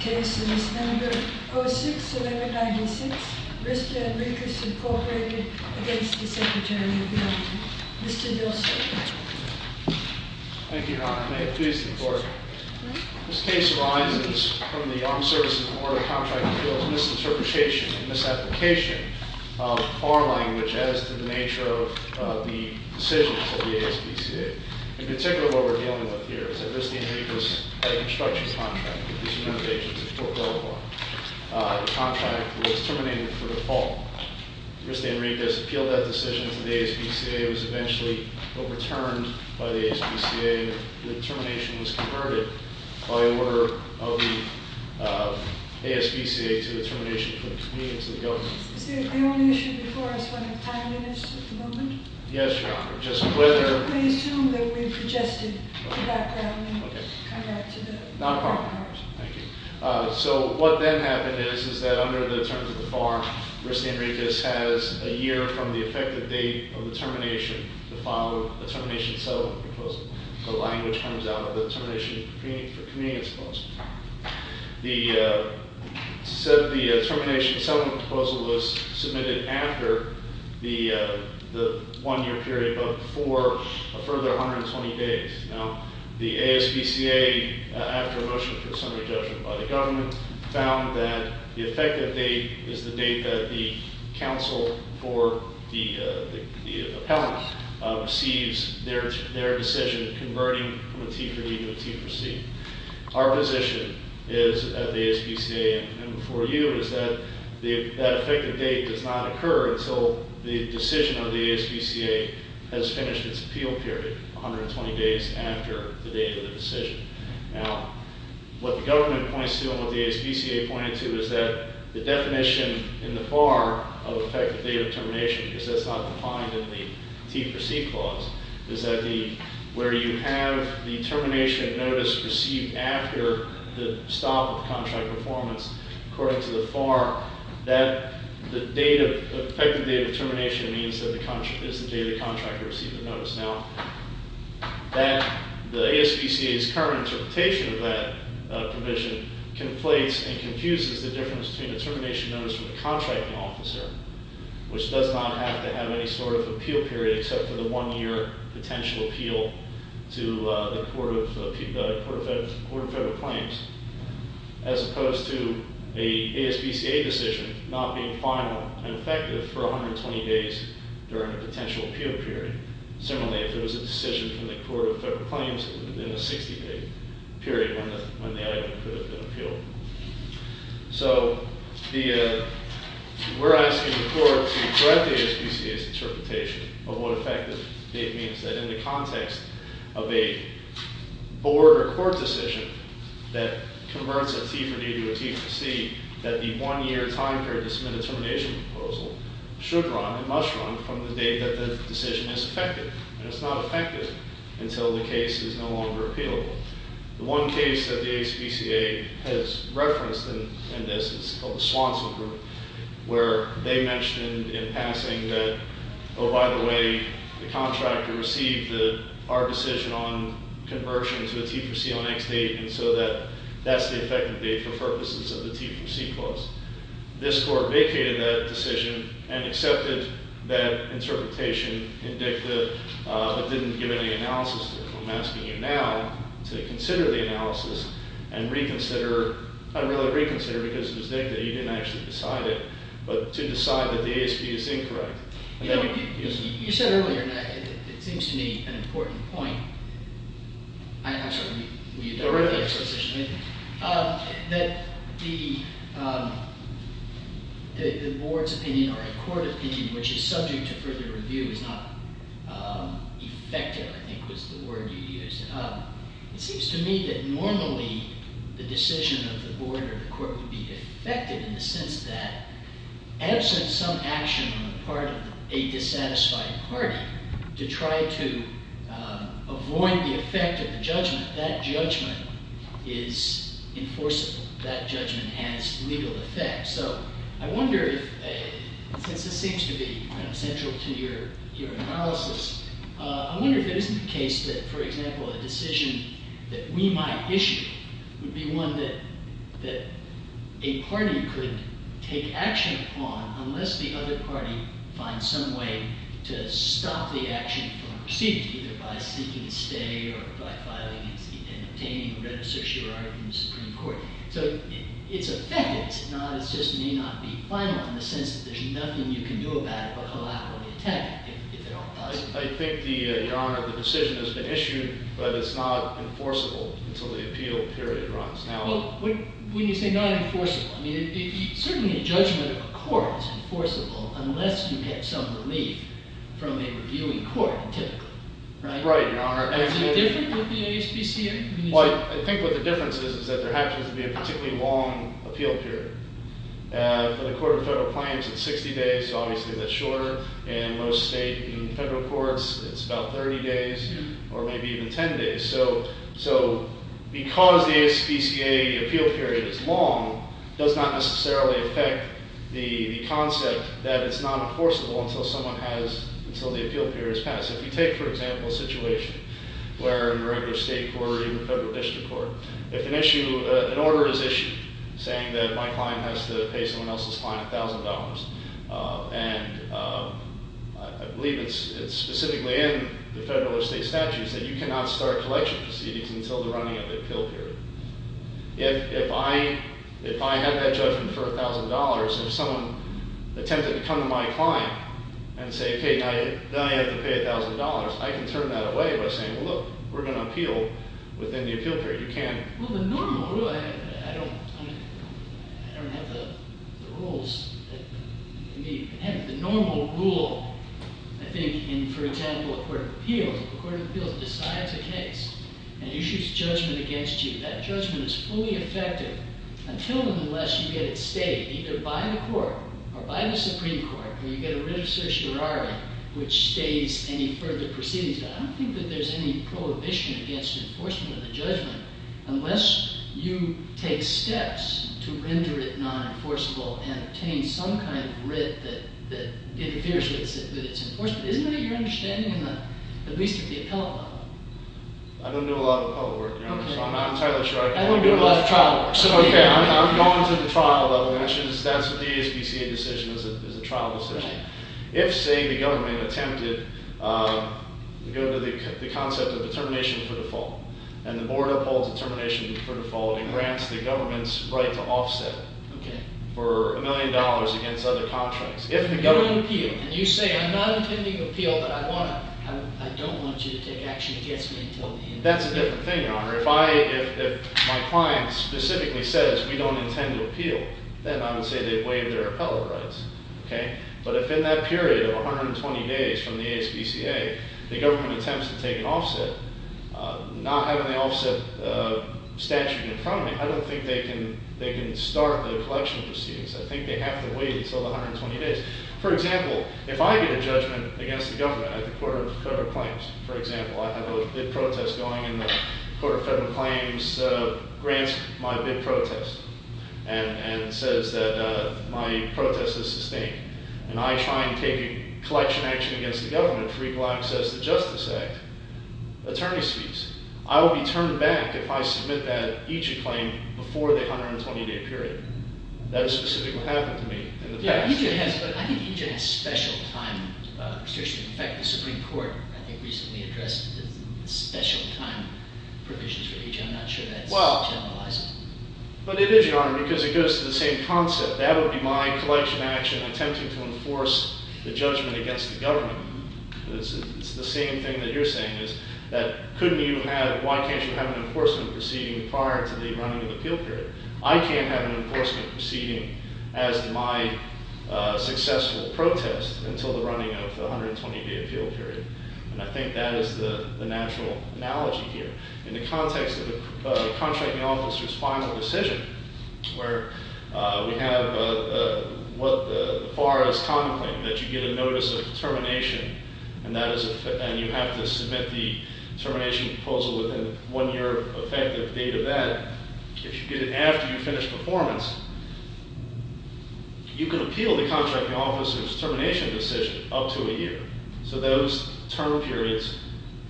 Case No. 06-1196, Riste & Ricas, Inc. v. Secretary of the Army, Mr. Vilsack Thank you, Your Honor. May it please the Court. This case arises from the Armed Services and Border Contract Appeals' misinterpretation and misapplication of our language as to the nature of the decisions of the ASPCA. In particular, what we're dealing with here is a Riste & Ricas construction contract with these United Agencies of Fort Belvoir. The contract was terminated for default. Riste & Ricas appealed that decision to the ASPCA. It was eventually overturned by the ASPCA. The termination was converted by order of the ASPCA to the termination from the convenience of the government. Is there any issue before us when the time is at the moment? Yes, Your Honor. Just whether... Please assume that we've adjusted the background in regard to the... Thank you. So what then happened is that under the terms of the farm, Riste & Ricas has a year from the effective date of the termination to file a termination settlement proposal. The language comes out of the termination for convenience proposal. The termination settlement proposal was submitted after the one-year period, but for a further 120 days. Now, the ASPCA, after a motion for summary judgment by the government, found that the effective date is the date that the counsel for the appellant receives their decision converting from a T for me to a T for C. Our position is at the ASPCA and for you is that the effective date does not occur until the decision of the ASPCA has finished its appeal period, 120 days after the date of the decision. Now, what the government points to and what the ASPCA pointed to is that the definition in the FAR of effective date of termination, because that's not defined in the T for C clause, is that where you have the termination notice received after the stop of contract performance, according to the FAR, that the date of... ...is the date the contractor received the notice. Now, the ASPCA's current interpretation of that provision conflates and confuses the difference between a termination notice from a contracting officer, which does not have to have any sort of appeal period except for the one-year potential appeal to the Court of Federal Claims, as opposed to an ASPCA decision not being final and effective for 120 days during a potential appeal period. Similarly, if it was a decision from the Court of Federal Claims in a 60-day period when the item could have been appealed. So, we're asking the Court to correct the ASPCA's interpretation of what effective date means. That in the context of a board or court decision that converts a T for D to a T for C, that the one-year time period to submit a termination proposal should run and must run from the date that the decision is effective. And it's not effective until the case is no longer appealable. The one case that the ASPCA has referenced in this is called the Swanson Group, where they mentioned in passing that, oh, by the way, the contractor received our decision on conversion to a T for C on X date, and so that's the effective date for purposes of the T for C clause. This court vacated that decision and accepted that interpretation in dicta, but didn't give any analysis. I'm asking you now to consider the analysis and reconsider, not really reconsider because it was dicta. You didn't actually decide it, but to decide that the ASP is incorrect. You said earlier, and it seems to me an important point. I'm sorry, will you direct the exposition? That the board's opinion or a court opinion, which is subject to further review, is not effective, I think was the word you used. It seems to me that normally the decision of the board or the court would be effective in the sense that absent some action on the part of a dissatisfied party to try to avoid the effect of the judgment, that judgment is enforceable. That judgment has legal effect. So I wonder if, since this seems to be central to your analysis, I wonder if it isn't the case that, for example, a decision that we might issue would be one that a party could take action upon unless the other party finds some way to stop the action from proceeding, either by seeking a stay or by filing and obtaining a renegotiator in the Supreme Court. So it's effective, it's just may not be final in the sense that there's nothing you can do about it but allow it to be attacked if it all doesn't work. I think, Your Honor, the decision has been issued, but it's not enforceable until the appeal period runs. Well, when you say not enforceable, I mean, certainly a judgment of a court is enforceable unless you have some relief from a reviewing court, typically. Right, Your Honor. Is it different with the ASPCA? Well, I think what the difference is is that there happens to be a particularly long appeal period. For the Court of Federal Claims, it's 60 days, so obviously that's shorter. In most state and federal courts, it's about 30 days or maybe even 10 days. So because the ASPCA appeal period is long, it does not necessarily affect the concept that it's not enforceable until someone has, until the appeal period has passed. If you take, for example, a situation where in a regular state court or even a federal district court, if an issue, an order is issued saying that my client has to pay someone else's client $1,000, and I believe it's specifically in the federal or state statutes that you cannot start collection proceedings until the running of the appeal period. If I have that judgment for $1,000, and if someone attempted to come to my client and say, okay, now you have to pay $1,000, I can turn that away by saying, well, look, we're going to appeal within the appeal period. You can't- Well, the normal rule, I don't have the rules. The normal rule, I think, in, for example, a court of appeals, a court of appeals decides a case, and issues judgment against you. That judgment is fully effective until and unless you get it stayed, either by the court or by the Supreme Court, where you get a writ of certiorari which stays any further proceedings. I don't think that there's any prohibition against enforcement of the judgment unless you take steps to render it non-enforceable and obtain some kind of writ that interferes with its enforcement. Isn't that your understanding, at least at the appellate level? I don't do a lot of appellate work, Your Honor, so I'm not entirely sure I can- I don't do a lot of trial work. Okay, I'm going to the trial level, and that's a DSPCA decision as a trial decision. If, say, the government attempted to go to the concept of determination for default, and the board upholds determination for default and grants the government's right to offset for $1 million against other contracts. If the government- You don't appeal, and you say, I'm not intending to appeal, but I don't want you to take action against me until- That's a different thing, Your Honor. If my client specifically says, we don't intend to appeal, then I would say they've waived their appellate rights, okay? But if in that period of 120 days from the DSPCA, the government attempts to take an offset, not having the offset statute in front of me, I don't think they can start the collection proceedings. I think they have to wait until the 120 days. For example, if I get a judgment against the government at the Court of Federal Claims, for example, I have a bid protest going, and the Court of Federal Claims grants my bid protest and says that my protest is sustained, and I try and take a collection action against the government for equal access to the Justice Act, attorney's fees, I will be turned back if I submit that, each claim, before the 120-day period. That is specifically what happened to me in the past. I think EJ has special time restrictions. In fact, the Supreme Court, I think, recently addressed the special time provisions for EJ. I'm not sure that's generalizable. But it is, Your Honor, because it goes to the same concept. That would be my collection action, attempting to enforce the judgment against the government. It's the same thing that you're saying, that couldn't you have- Why can't you have an enforcement proceeding prior to the running of the appeal period? I can't have an enforcement proceeding as my successful protest until the running of the 120-day appeal period. And I think that is the natural analogy here. In the context of the contracting officer's final decision, where we have what the FAR is contemplating, that you get a notice of termination, and you have to submit the termination proposal within the one-year effective date of that, if you get it after you finish performance, you can appeal the contracting officer's termination decision up to a year. So those term periods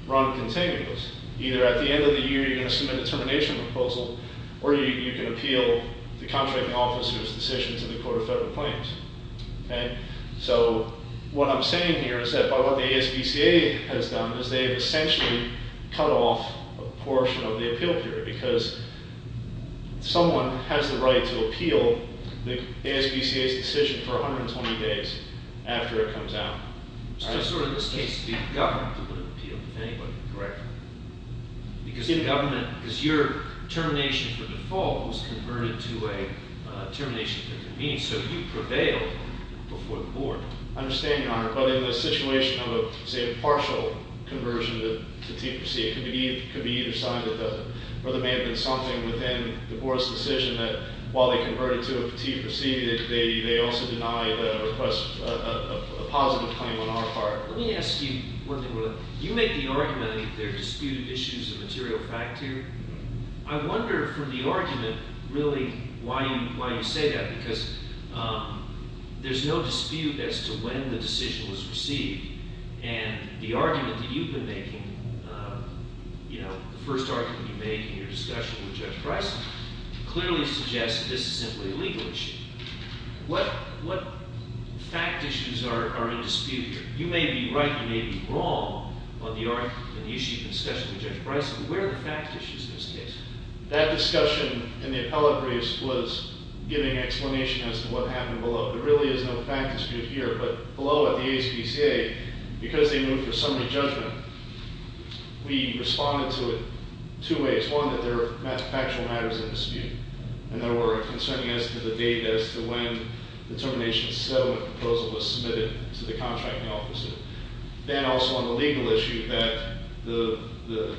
run continuously. Either at the end of the year you're going to submit a termination proposal, or you can appeal the contracting officer's decision to the Court of Federal Claims. So what I'm saying here is that by what the ASBCA has done, is they've essentially cut off a portion of the appeal period because someone has the right to appeal the ASBCA's decision for 120 days after it comes out. So it's sort of in this case the government that would appeal, if anybody could correct me. Because the government- because your termination for default was converted to a termination for convenience, so you prevailed before the board. I understand, Your Honor, but in the situation of, say, a partial conversion to TPC, it could be either signed or there may have been something within the board's decision that, while they converted to a TPC, they also deny the request of a positive claim on our part. Let me ask you one thing. You make the argument that there are disputed issues of material fact here. I wonder from the argument, really, why you say that. Because there's no dispute as to when the decision was received. And the argument that you've been making, the first argument you make in your discussion with Judge Bryson, clearly suggests that this is simply a legal issue. What fact issues are in dispute here? You may be right, you may be wrong on the issue you've been discussing with Judge Bryson. Where are the fact issues in this case? That discussion in the appellate briefs was giving explanation as to what happened below. There really is no fact dispute here. But below at the ASPCA, because they moved for summary judgment, we responded to it two ways. One, that there are factual matters in dispute. And there were concerning as to the date as to when the termination settlement proposal was submitted to the contracting officer. Then also on the legal issue that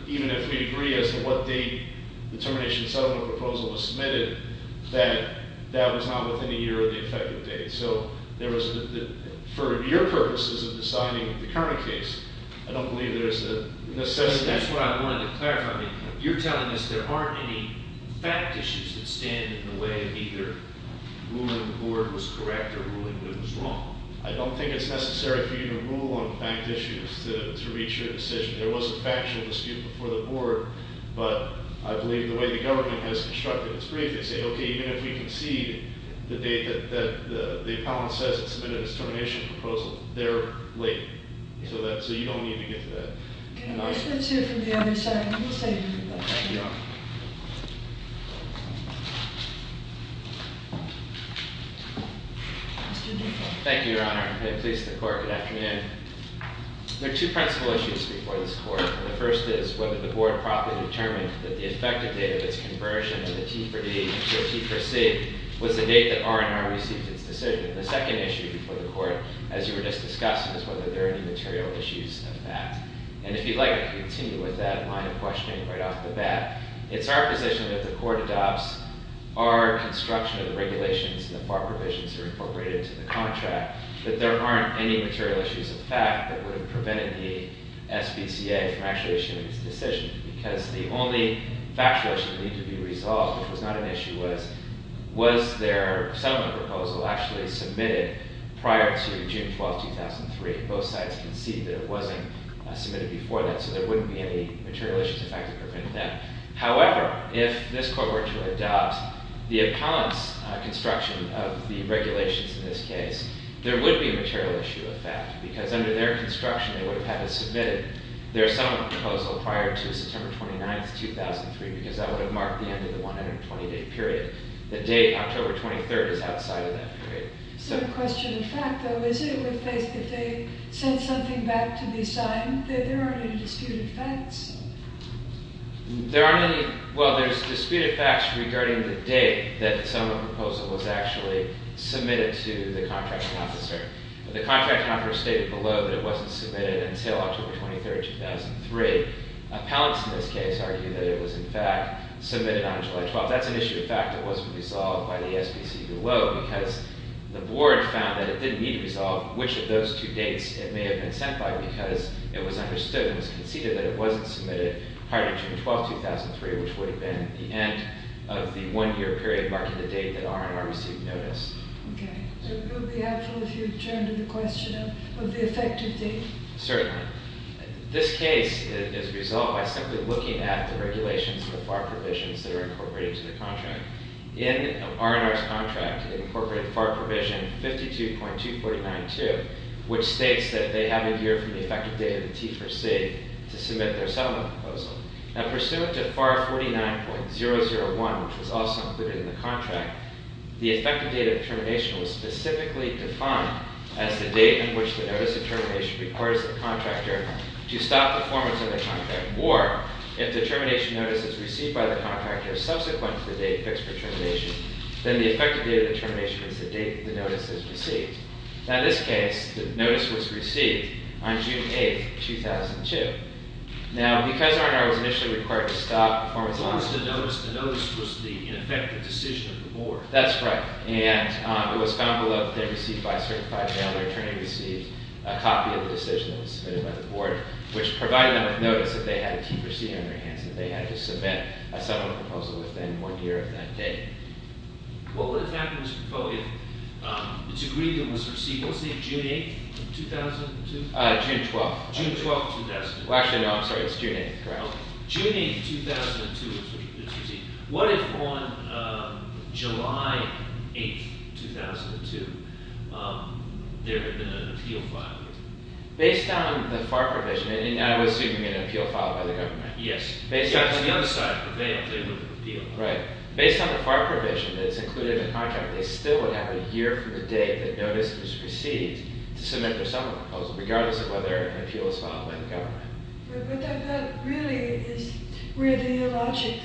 even if we agree as to what date the termination settlement proposal was submitted, that that was not within a year of the effective date. So there was, for your purposes of deciding the current case, I don't believe there's a necessity. That's what I wanted to clarify. You're telling us there aren't any fact issues that stand in the way of either ruling the board was correct or ruling it was wrong. I don't think it's necessary for you to rule on fact issues to reach your decision. There was a factual dispute before the board. But I believe the way the government has constructed its brief, they say, okay, even if we concede the date that the appellant says it submitted its termination proposal, they're late. So you don't need to get to that. And I- Let's hear from the other side. We'll say- Thank you, Your Honor. Thank you, Your Honor. May it please the court. Good afternoon. There are two principal issues before this court. The first is whether the board properly determined that the effective date of its conversion of the T for D to a T for C was the date that R&R received its decision. The second issue before the court, as you were just discussing, is whether there are any material issues of that. And if you'd like, I can continue with that line of questioning right off the bat. It's our position that the court adopts our construction of the regulations and the FAR provisions that are incorporated into the contract, that there aren't any material issues of fact that would have prevented the SPCA from actuating its decision, because the only factual issue that needed to be resolved, which was not an issue, was, was their settlement proposal actually submitted prior to June 12, 2003? Both sides concede that it wasn't submitted before that, so there wouldn't be any material issues of fact that prevented that. However, if this court were to adopt the appellant's construction of the regulations in this case, there would be a material issue of fact, because under their construction, they would have had it submitted, their settlement proposal prior to September 29, 2003, because that would have marked the end of the 120-day period. The date, October 23rd, is outside of that period. So the question of fact, though, is it if they sent something back to be signed that there aren't any disputed facts? There aren't any – well, there's disputed facts regarding the date that the settlement proposal was actually submitted to the contracting officer. The contracting officer stated below that it wasn't submitted until October 23rd, 2003. Appellants in this case argue that it was, in fact, submitted on July 12th. That's an issue of fact that wasn't resolved by the SPCA below, because the board found that it didn't need to resolve which of those two dates it may have been sent by, because it was understood and it was conceded that it wasn't submitted prior to June 12, 2003, which would have been the end of the one-year period marking the date that R&R received notice. Okay. It would be helpful if you returned to the question of the effective date. Certainly. This case is resolved by simply looking at the regulations and the FAR provisions that are incorporated to the contract. In R&R's contract, it incorporated FAR provision 52.2492, which states that they have a year from the effective date of the T4C to submit their settlement proposal. Now, pursuant to FAR 49.001, which was also included in the contract, the effective date of termination was specifically defined as the date in which the notice of termination requires the contractor to stop performance of the contract, or if the termination notice is received by the contractor subsequent to the date fixed for termination, then the effective date of the termination was the date that the notice was received. Now, in this case, the notice was received on June 8, 2002. Now, because R&R was initially required to stop performance of the contract— The notice was the ineffective decision of the board. That's right, and it was found below that they received by a certified mailer attorney received a copy of the decision that was submitted by the board, which provided them with notice that they had a T4C on their hands, and that they had to submit a settlement proposal within one year of that date. What would have happened if the board had agreed that it was received, what was the date, June 8, 2002? June 12. June 12, 2002. Well, actually, no, I'm sorry, it was June 8, correct? No, June 8, 2002 was when it was received. What if on July 8, 2002, there had been an appeal filed? Based on the FAR provision, I was assuming an appeal filed by the government. Yes. On the other side of the veil, they wouldn't appeal. Right. Based on the FAR provision that's included in the contract, they still would have a year from the date the notice was received to submit their settlement proposal, regardless of whether an appeal was filed by the government. But that really is where the logic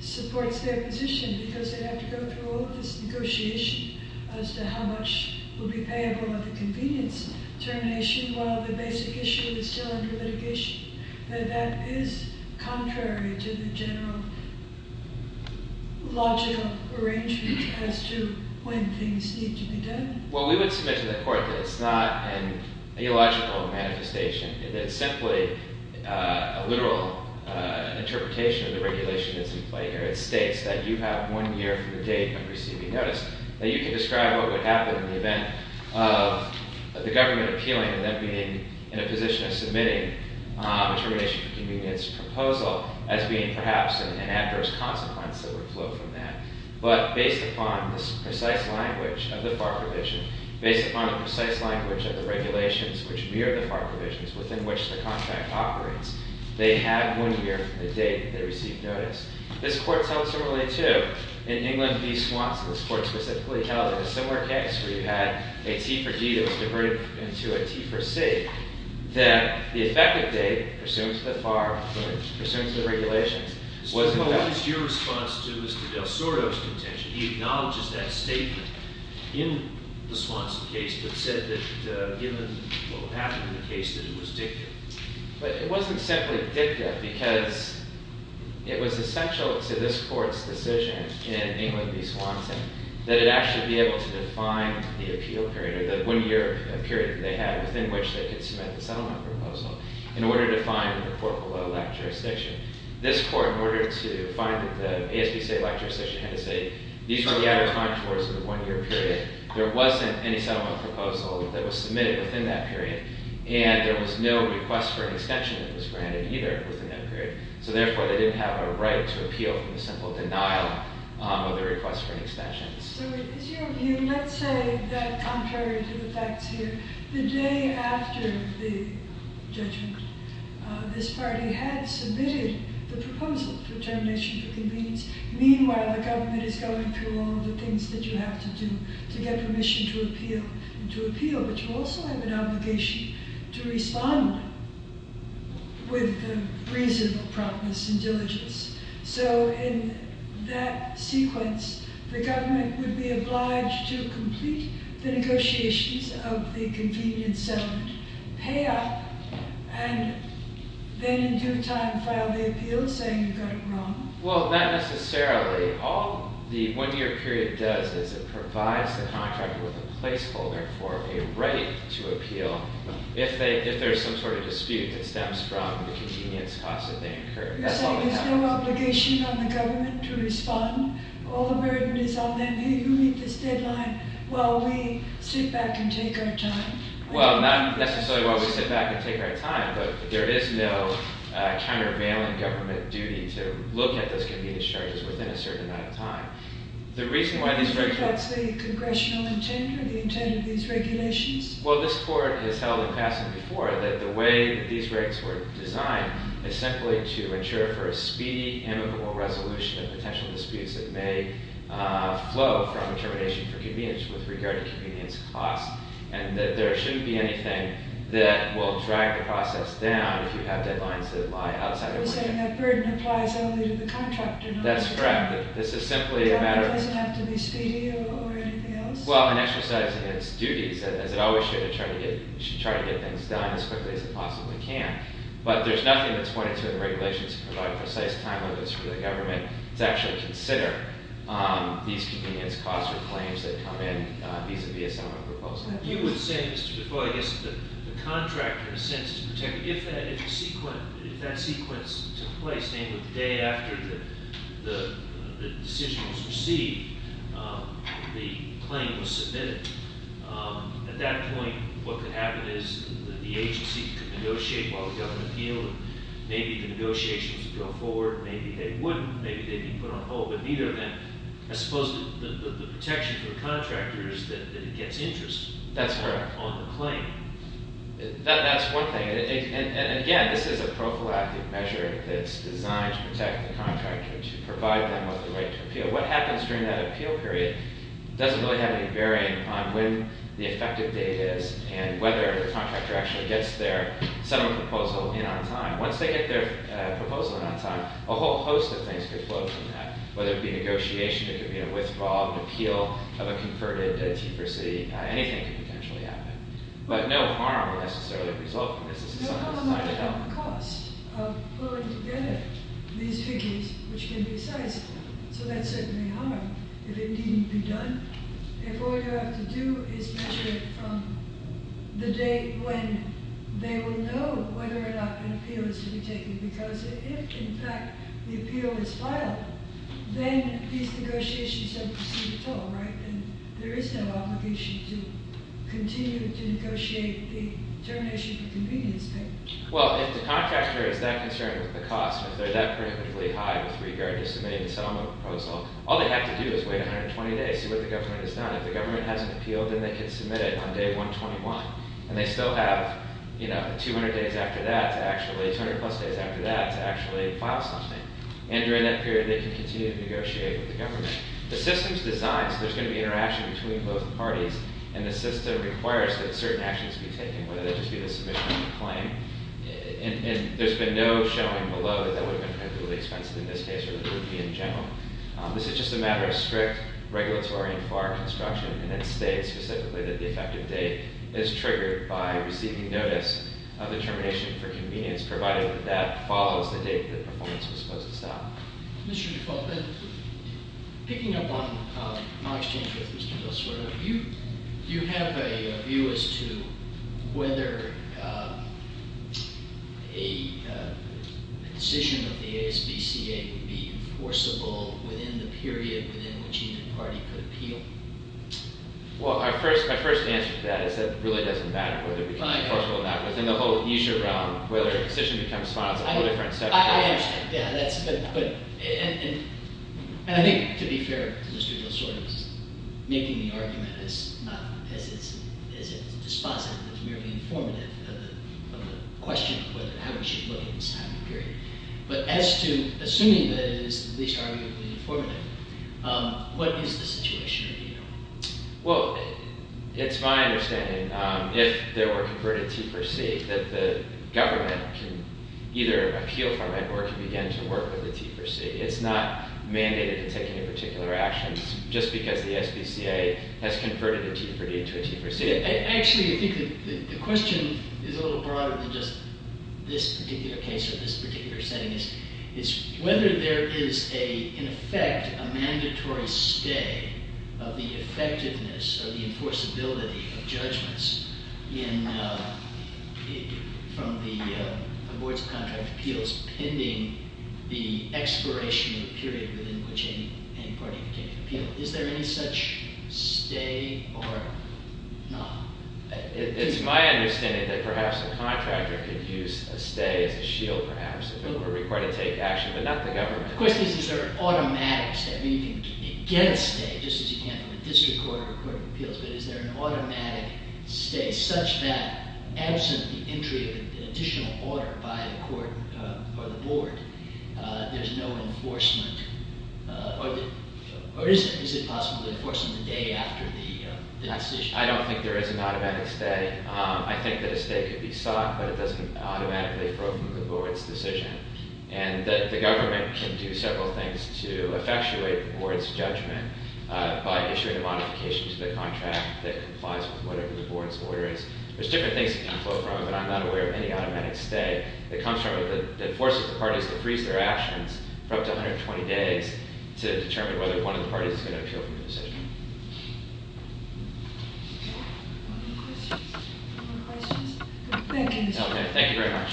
supports their position, because they'd have to go through all of this negotiation as to how much would be payable at the convenience termination while the basic issue is still under litigation. That is contrary to the general logical arrangement as to when things need to be done. Well, we would submit to the court that it's not an illogical manifestation, that it's simply a literal interpretation of the regulation that's in play here. It states that you have one year from the date of receiving notice, that you can describe what would happen in the event of the government appealing and them being in a position of submitting a termination for convenience proposal as being perhaps an adverse consequence that would flow from that. But based upon this precise language of the FAR provision, based upon the precise language of the regulations which mirror the FAR provisions within which the contract operates, they have one year from the date they receive notice. This court held similarly, too. In England v. Swanson, this court specifically held in a similar case where you had a T for D that was diverted into a T for C, that the effective date pursuant to the FAR, pursuant to the regulations, wasn't that. So what is your response to Mr. del Surio's contention? He acknowledges that statement in the Swanson case, but said that given what would happen in the case that it was dicta. But it wasn't simply dicta because it was essential to this court's decision in England v. Swanson that it actually be able to define the appeal period, or the one-year period that they had within which they could submit the settlement proposal in order to find a report below that jurisdiction. This court, in order to find the ASBCA lecture session had to say these were the out-of-time tours of the one-year period. There wasn't any settlement proposal that was submitted within that period and there was no request for an extension that was granted either within that period. So therefore, they didn't have a right to appeal from the simple denial of the request for an extension. So is your view, let's say that contrary to the facts here, the day after the judgment, this party had submitted the proposal for termination of the convenience. Meanwhile, the government is going through all the things that you have to do to get permission to appeal. But you also have an obligation to respond with reasonable promise and diligence. So in that sequence, the government would be obliged to complete the negotiations of the convenience settlement, pay up, and then in due time file the appeal saying you got it wrong. Well, not necessarily. All the one-year period does is it provides the contractor with a placeholder for a right to appeal if there's some sort of dispute that stems from the convenience cost that they incur. You're saying there's no obligation on the government to respond. All the burden is on them. Hey, you meet this deadline while we sit back and take our time. Well, not necessarily while we sit back and take our time, but there is no countervailing government duty to look at those convenience charges within a certain amount of time. Do you think that's the congressional intent or the intent of these regulations? Well, this Court has held in passing before that the way that these rates were designed is simply to ensure for a speedy, amicable resolution of potential disputes that may flow from termination for convenience with regard to convenience costs and that there shouldn't be anything that will drag the process down if you have deadlines that lie outside of work. You're saying that burden applies only to the contractor, not to the government. That's correct. The government doesn't have to be speedy or anything else? Well, in exercising its duties, as it always should, it should try to get things done as quickly as it possibly can. But there's nothing that's pointed to in the regulations to provide precise time limits for the government to actually consider these convenience costs or claims that come in vis-à-vis a similar proposal. You would say, Mr. DeFoy, I guess, that the contractor, in a sense, is protected. If that sequence took place, namely the day after the decision was received, the claim was submitted, at that point what could happen is the agency could negotiate while the government appealed Maybe the negotiations would go forward, maybe they wouldn't, maybe they'd be put on hold, but neither of them. I suppose the protection for the contractor is that it gets interest. That's correct. On the claim. That's one thing. And again, this is a prophylactic measure that's designed to protect the contractor, to provide them with the right to appeal. What happens during that appeal period doesn't really have any bearing on when the effective date is and whether the contractor actually gets their similar proposal in on time. Once they get their proposal in on time, a whole host of things could flow from that, whether it be negotiation, it could be a withdrawal of an appeal of a converted T4C, anything could potentially happen. But no harm will necessarily result from this. No harm will come from the cost of pulling together these figures, which can be precise, so that's certainly harm. If it needn't be done, if all you have to do is measure it from the date when they will know whether or not an appeal is to be taken, because if, in fact, the appeal is filed, then these negotiations don't proceed at all, right? And there is no obligation to continue to negotiate the termination of the convenience payment. Well, if the contractor is that concerned with the cost, if they're that perniciously high with regard to submitting a settlement proposal, all they have to do is wait 120 days, see what the government has done. If the government has an appeal, then they can submit it on day 121. And they still have 200 plus days after that to actually file something. And during that period, they can continue to negotiate with the government. The system's designed so there's going to be interaction between both parties, and the system requires that certain actions be taken, whether that just be the submission of the claim. And there's been no showing below that that would have been particularly expensive in this case or that it would be in general. This is just a matter of strict regulatory and FAR construction. And it states specifically that the effective date is triggered by receiving notice of the termination for convenience, provided that that follows the date that the performance was supposed to stop. Mr. DeFalco, picking up on my exchange with Mr. Goswara, do you have a view as to whether a decision of the ASBCA would be enforceable within the period within which either party could appeal? Well, my first answer to that is that it really doesn't matter whether it would be enforceable or not. But then the whole issue around whether a decision becomes final is a whole different subject. I understand. And I think, to be fair to Mr. Goswara, making the argument is not as if it's dispositive. It's merely informative of the question of how we should look at this time and period. But as to assuming that it is the least arguably informative, what is the situation? Well, it's my understanding, if there were to convert a T4C, that the government can either appeal from it or can begin to work with the T4C. It's not mandated to take any particular actions just because the ASBCA has converted a T4D into a T4C. Actually, I think the question is a little broader than just this particular case or this particular setting. It's whether there is, in effect, a mandatory stay of the effectiveness or the enforceability of judgments from the Boards of Contract Appeals pending the expiration of a period within which any party can appeal. Is there any such stay or not? It's my understanding that perhaps a contractor could use a stay as a shield, perhaps, if it were required to take action, but not the government. The question is, is there an automatic – I mean, you can get a stay, just as you can from a district court or a court of appeals – but is there an automatic stay such that, absent the entry of an additional order by the court or the board, there's no enforcement? Or is it possible to enforce them the day after the decision? I don't think there is an automatic stay. I think that a stay could be sought, but it doesn't automatically flow from the board's decision. And the government can do several things to effectuate the board's judgment by issuing a modification to the contract that complies with whatever the board's order is. There's different things that can flow from it, but I'm not aware of any automatic stay that comes from it that forces the parties to freeze their actions for up to 120 days to determine whether one of the parties is going to appeal from the decision. Any more questions? Thank you. Okay. Thank you very much.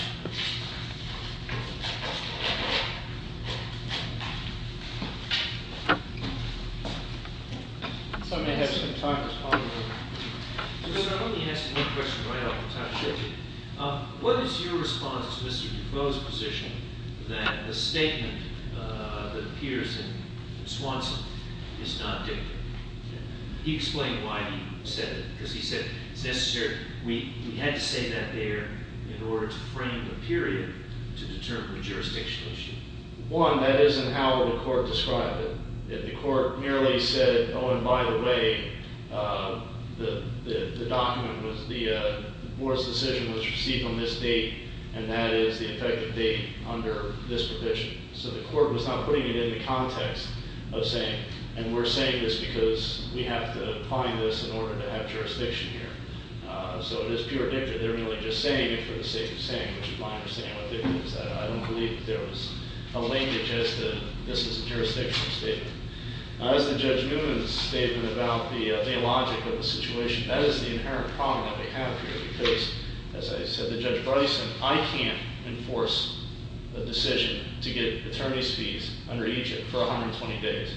If somebody has some time, let's call them in. Mr. Chairman, let me ask you one question right off the top of your head. What is your response to Mr. Duclos's position that the statement that appears in Swanson is not dictated? He explained why he said it, because he said it's necessary. We had to say that there in order to frame the period to determine the jurisdictional issue. One, that isn't how the court described it. The court merely said, oh, and by the way, the document was the board's decision was received on this date, and that is the effective date under this provision. So the court was not putting it in the context of saying, and we're saying this because we have to find this in order to have jurisdiction here. So it is pure dicta. They're merely just saying it for the sake of saying it, which is my understanding of what dicta is. I don't believe there was a language as to this is a jurisdictional statement. As to Judge Newman's statement about the logic of the situation, that is the inherent problem that we have here, because, as I said to Judge Bryson, I can't enforce a decision to get attorney's fees under Egypt for 120 days.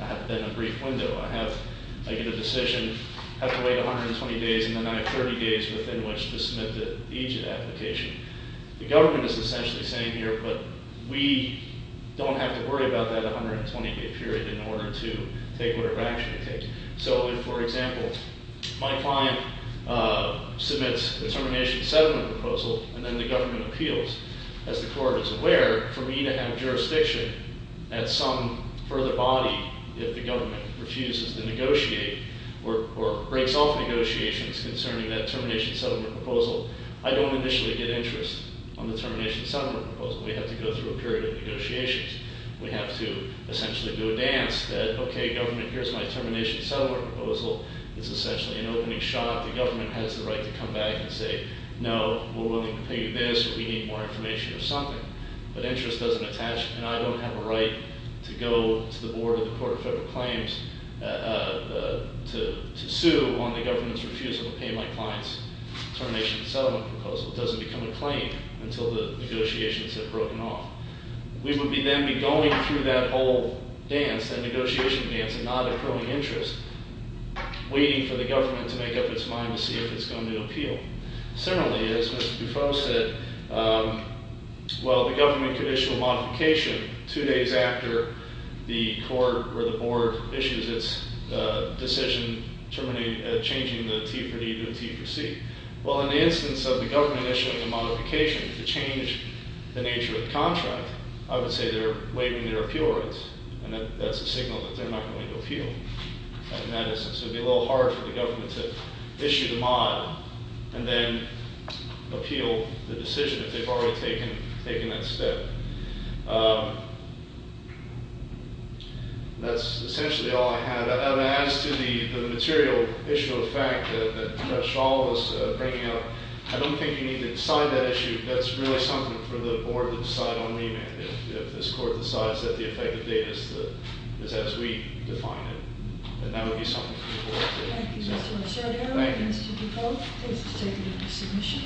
I have then a brief window. I get a decision, have to wait 120 days, and then I have 30 days within which to submit the Egypt application. The government is essentially saying here, but we don't have to worry about that 120-day period in order to take whatever action it takes. So if, for example, my client submits a termination settlement proposal, and then the government appeals, as the court is aware, for me to have jurisdiction at some further body if the government refuses to negotiate or breaks off negotiations concerning that termination settlement proposal, I don't initially get interest on the termination settlement proposal. We have to go through a period of negotiations. We have to essentially do a dance that, okay, government, here's my termination settlement proposal. It's essentially an opening shot. The government has the right to come back and say, no, we're willing to pay you this or we need more information or something. But interest doesn't attach, and I don't have a right to go to the board of the Court of Federal Claims to sue on the government's refusal to pay my client's termination settlement proposal. It doesn't become a claim until the negotiations have broken off. We would then be going through that whole dance, that negotiation dance, and not accruing interest, waiting for the government to make up its mind to see if it's going to appeal. Similarly, as Mr. Buffo said, well, the government could issue a modification two days after the court or the board issues its decision changing the T for D to a T for C. Well, in the instance of the government issuing a modification to change the nature of the contract, I would say they're waiving their appeal rights, and that's a signal that they're not going to appeal. In that instance, it would be a little hard for the government to issue the mod and then appeal the decision if they've already taken that step. That's essentially all I have. As to the material issue of fact that Mr. Shaw was bringing up, I don't think you need to decide that issue. That's really something for the board to decide on remand if this court decides that the effective date is as we define it. And that would be something for the board to- Thank you, Mr. Rosario. Thank you. Mr. Buffo, please take the submission.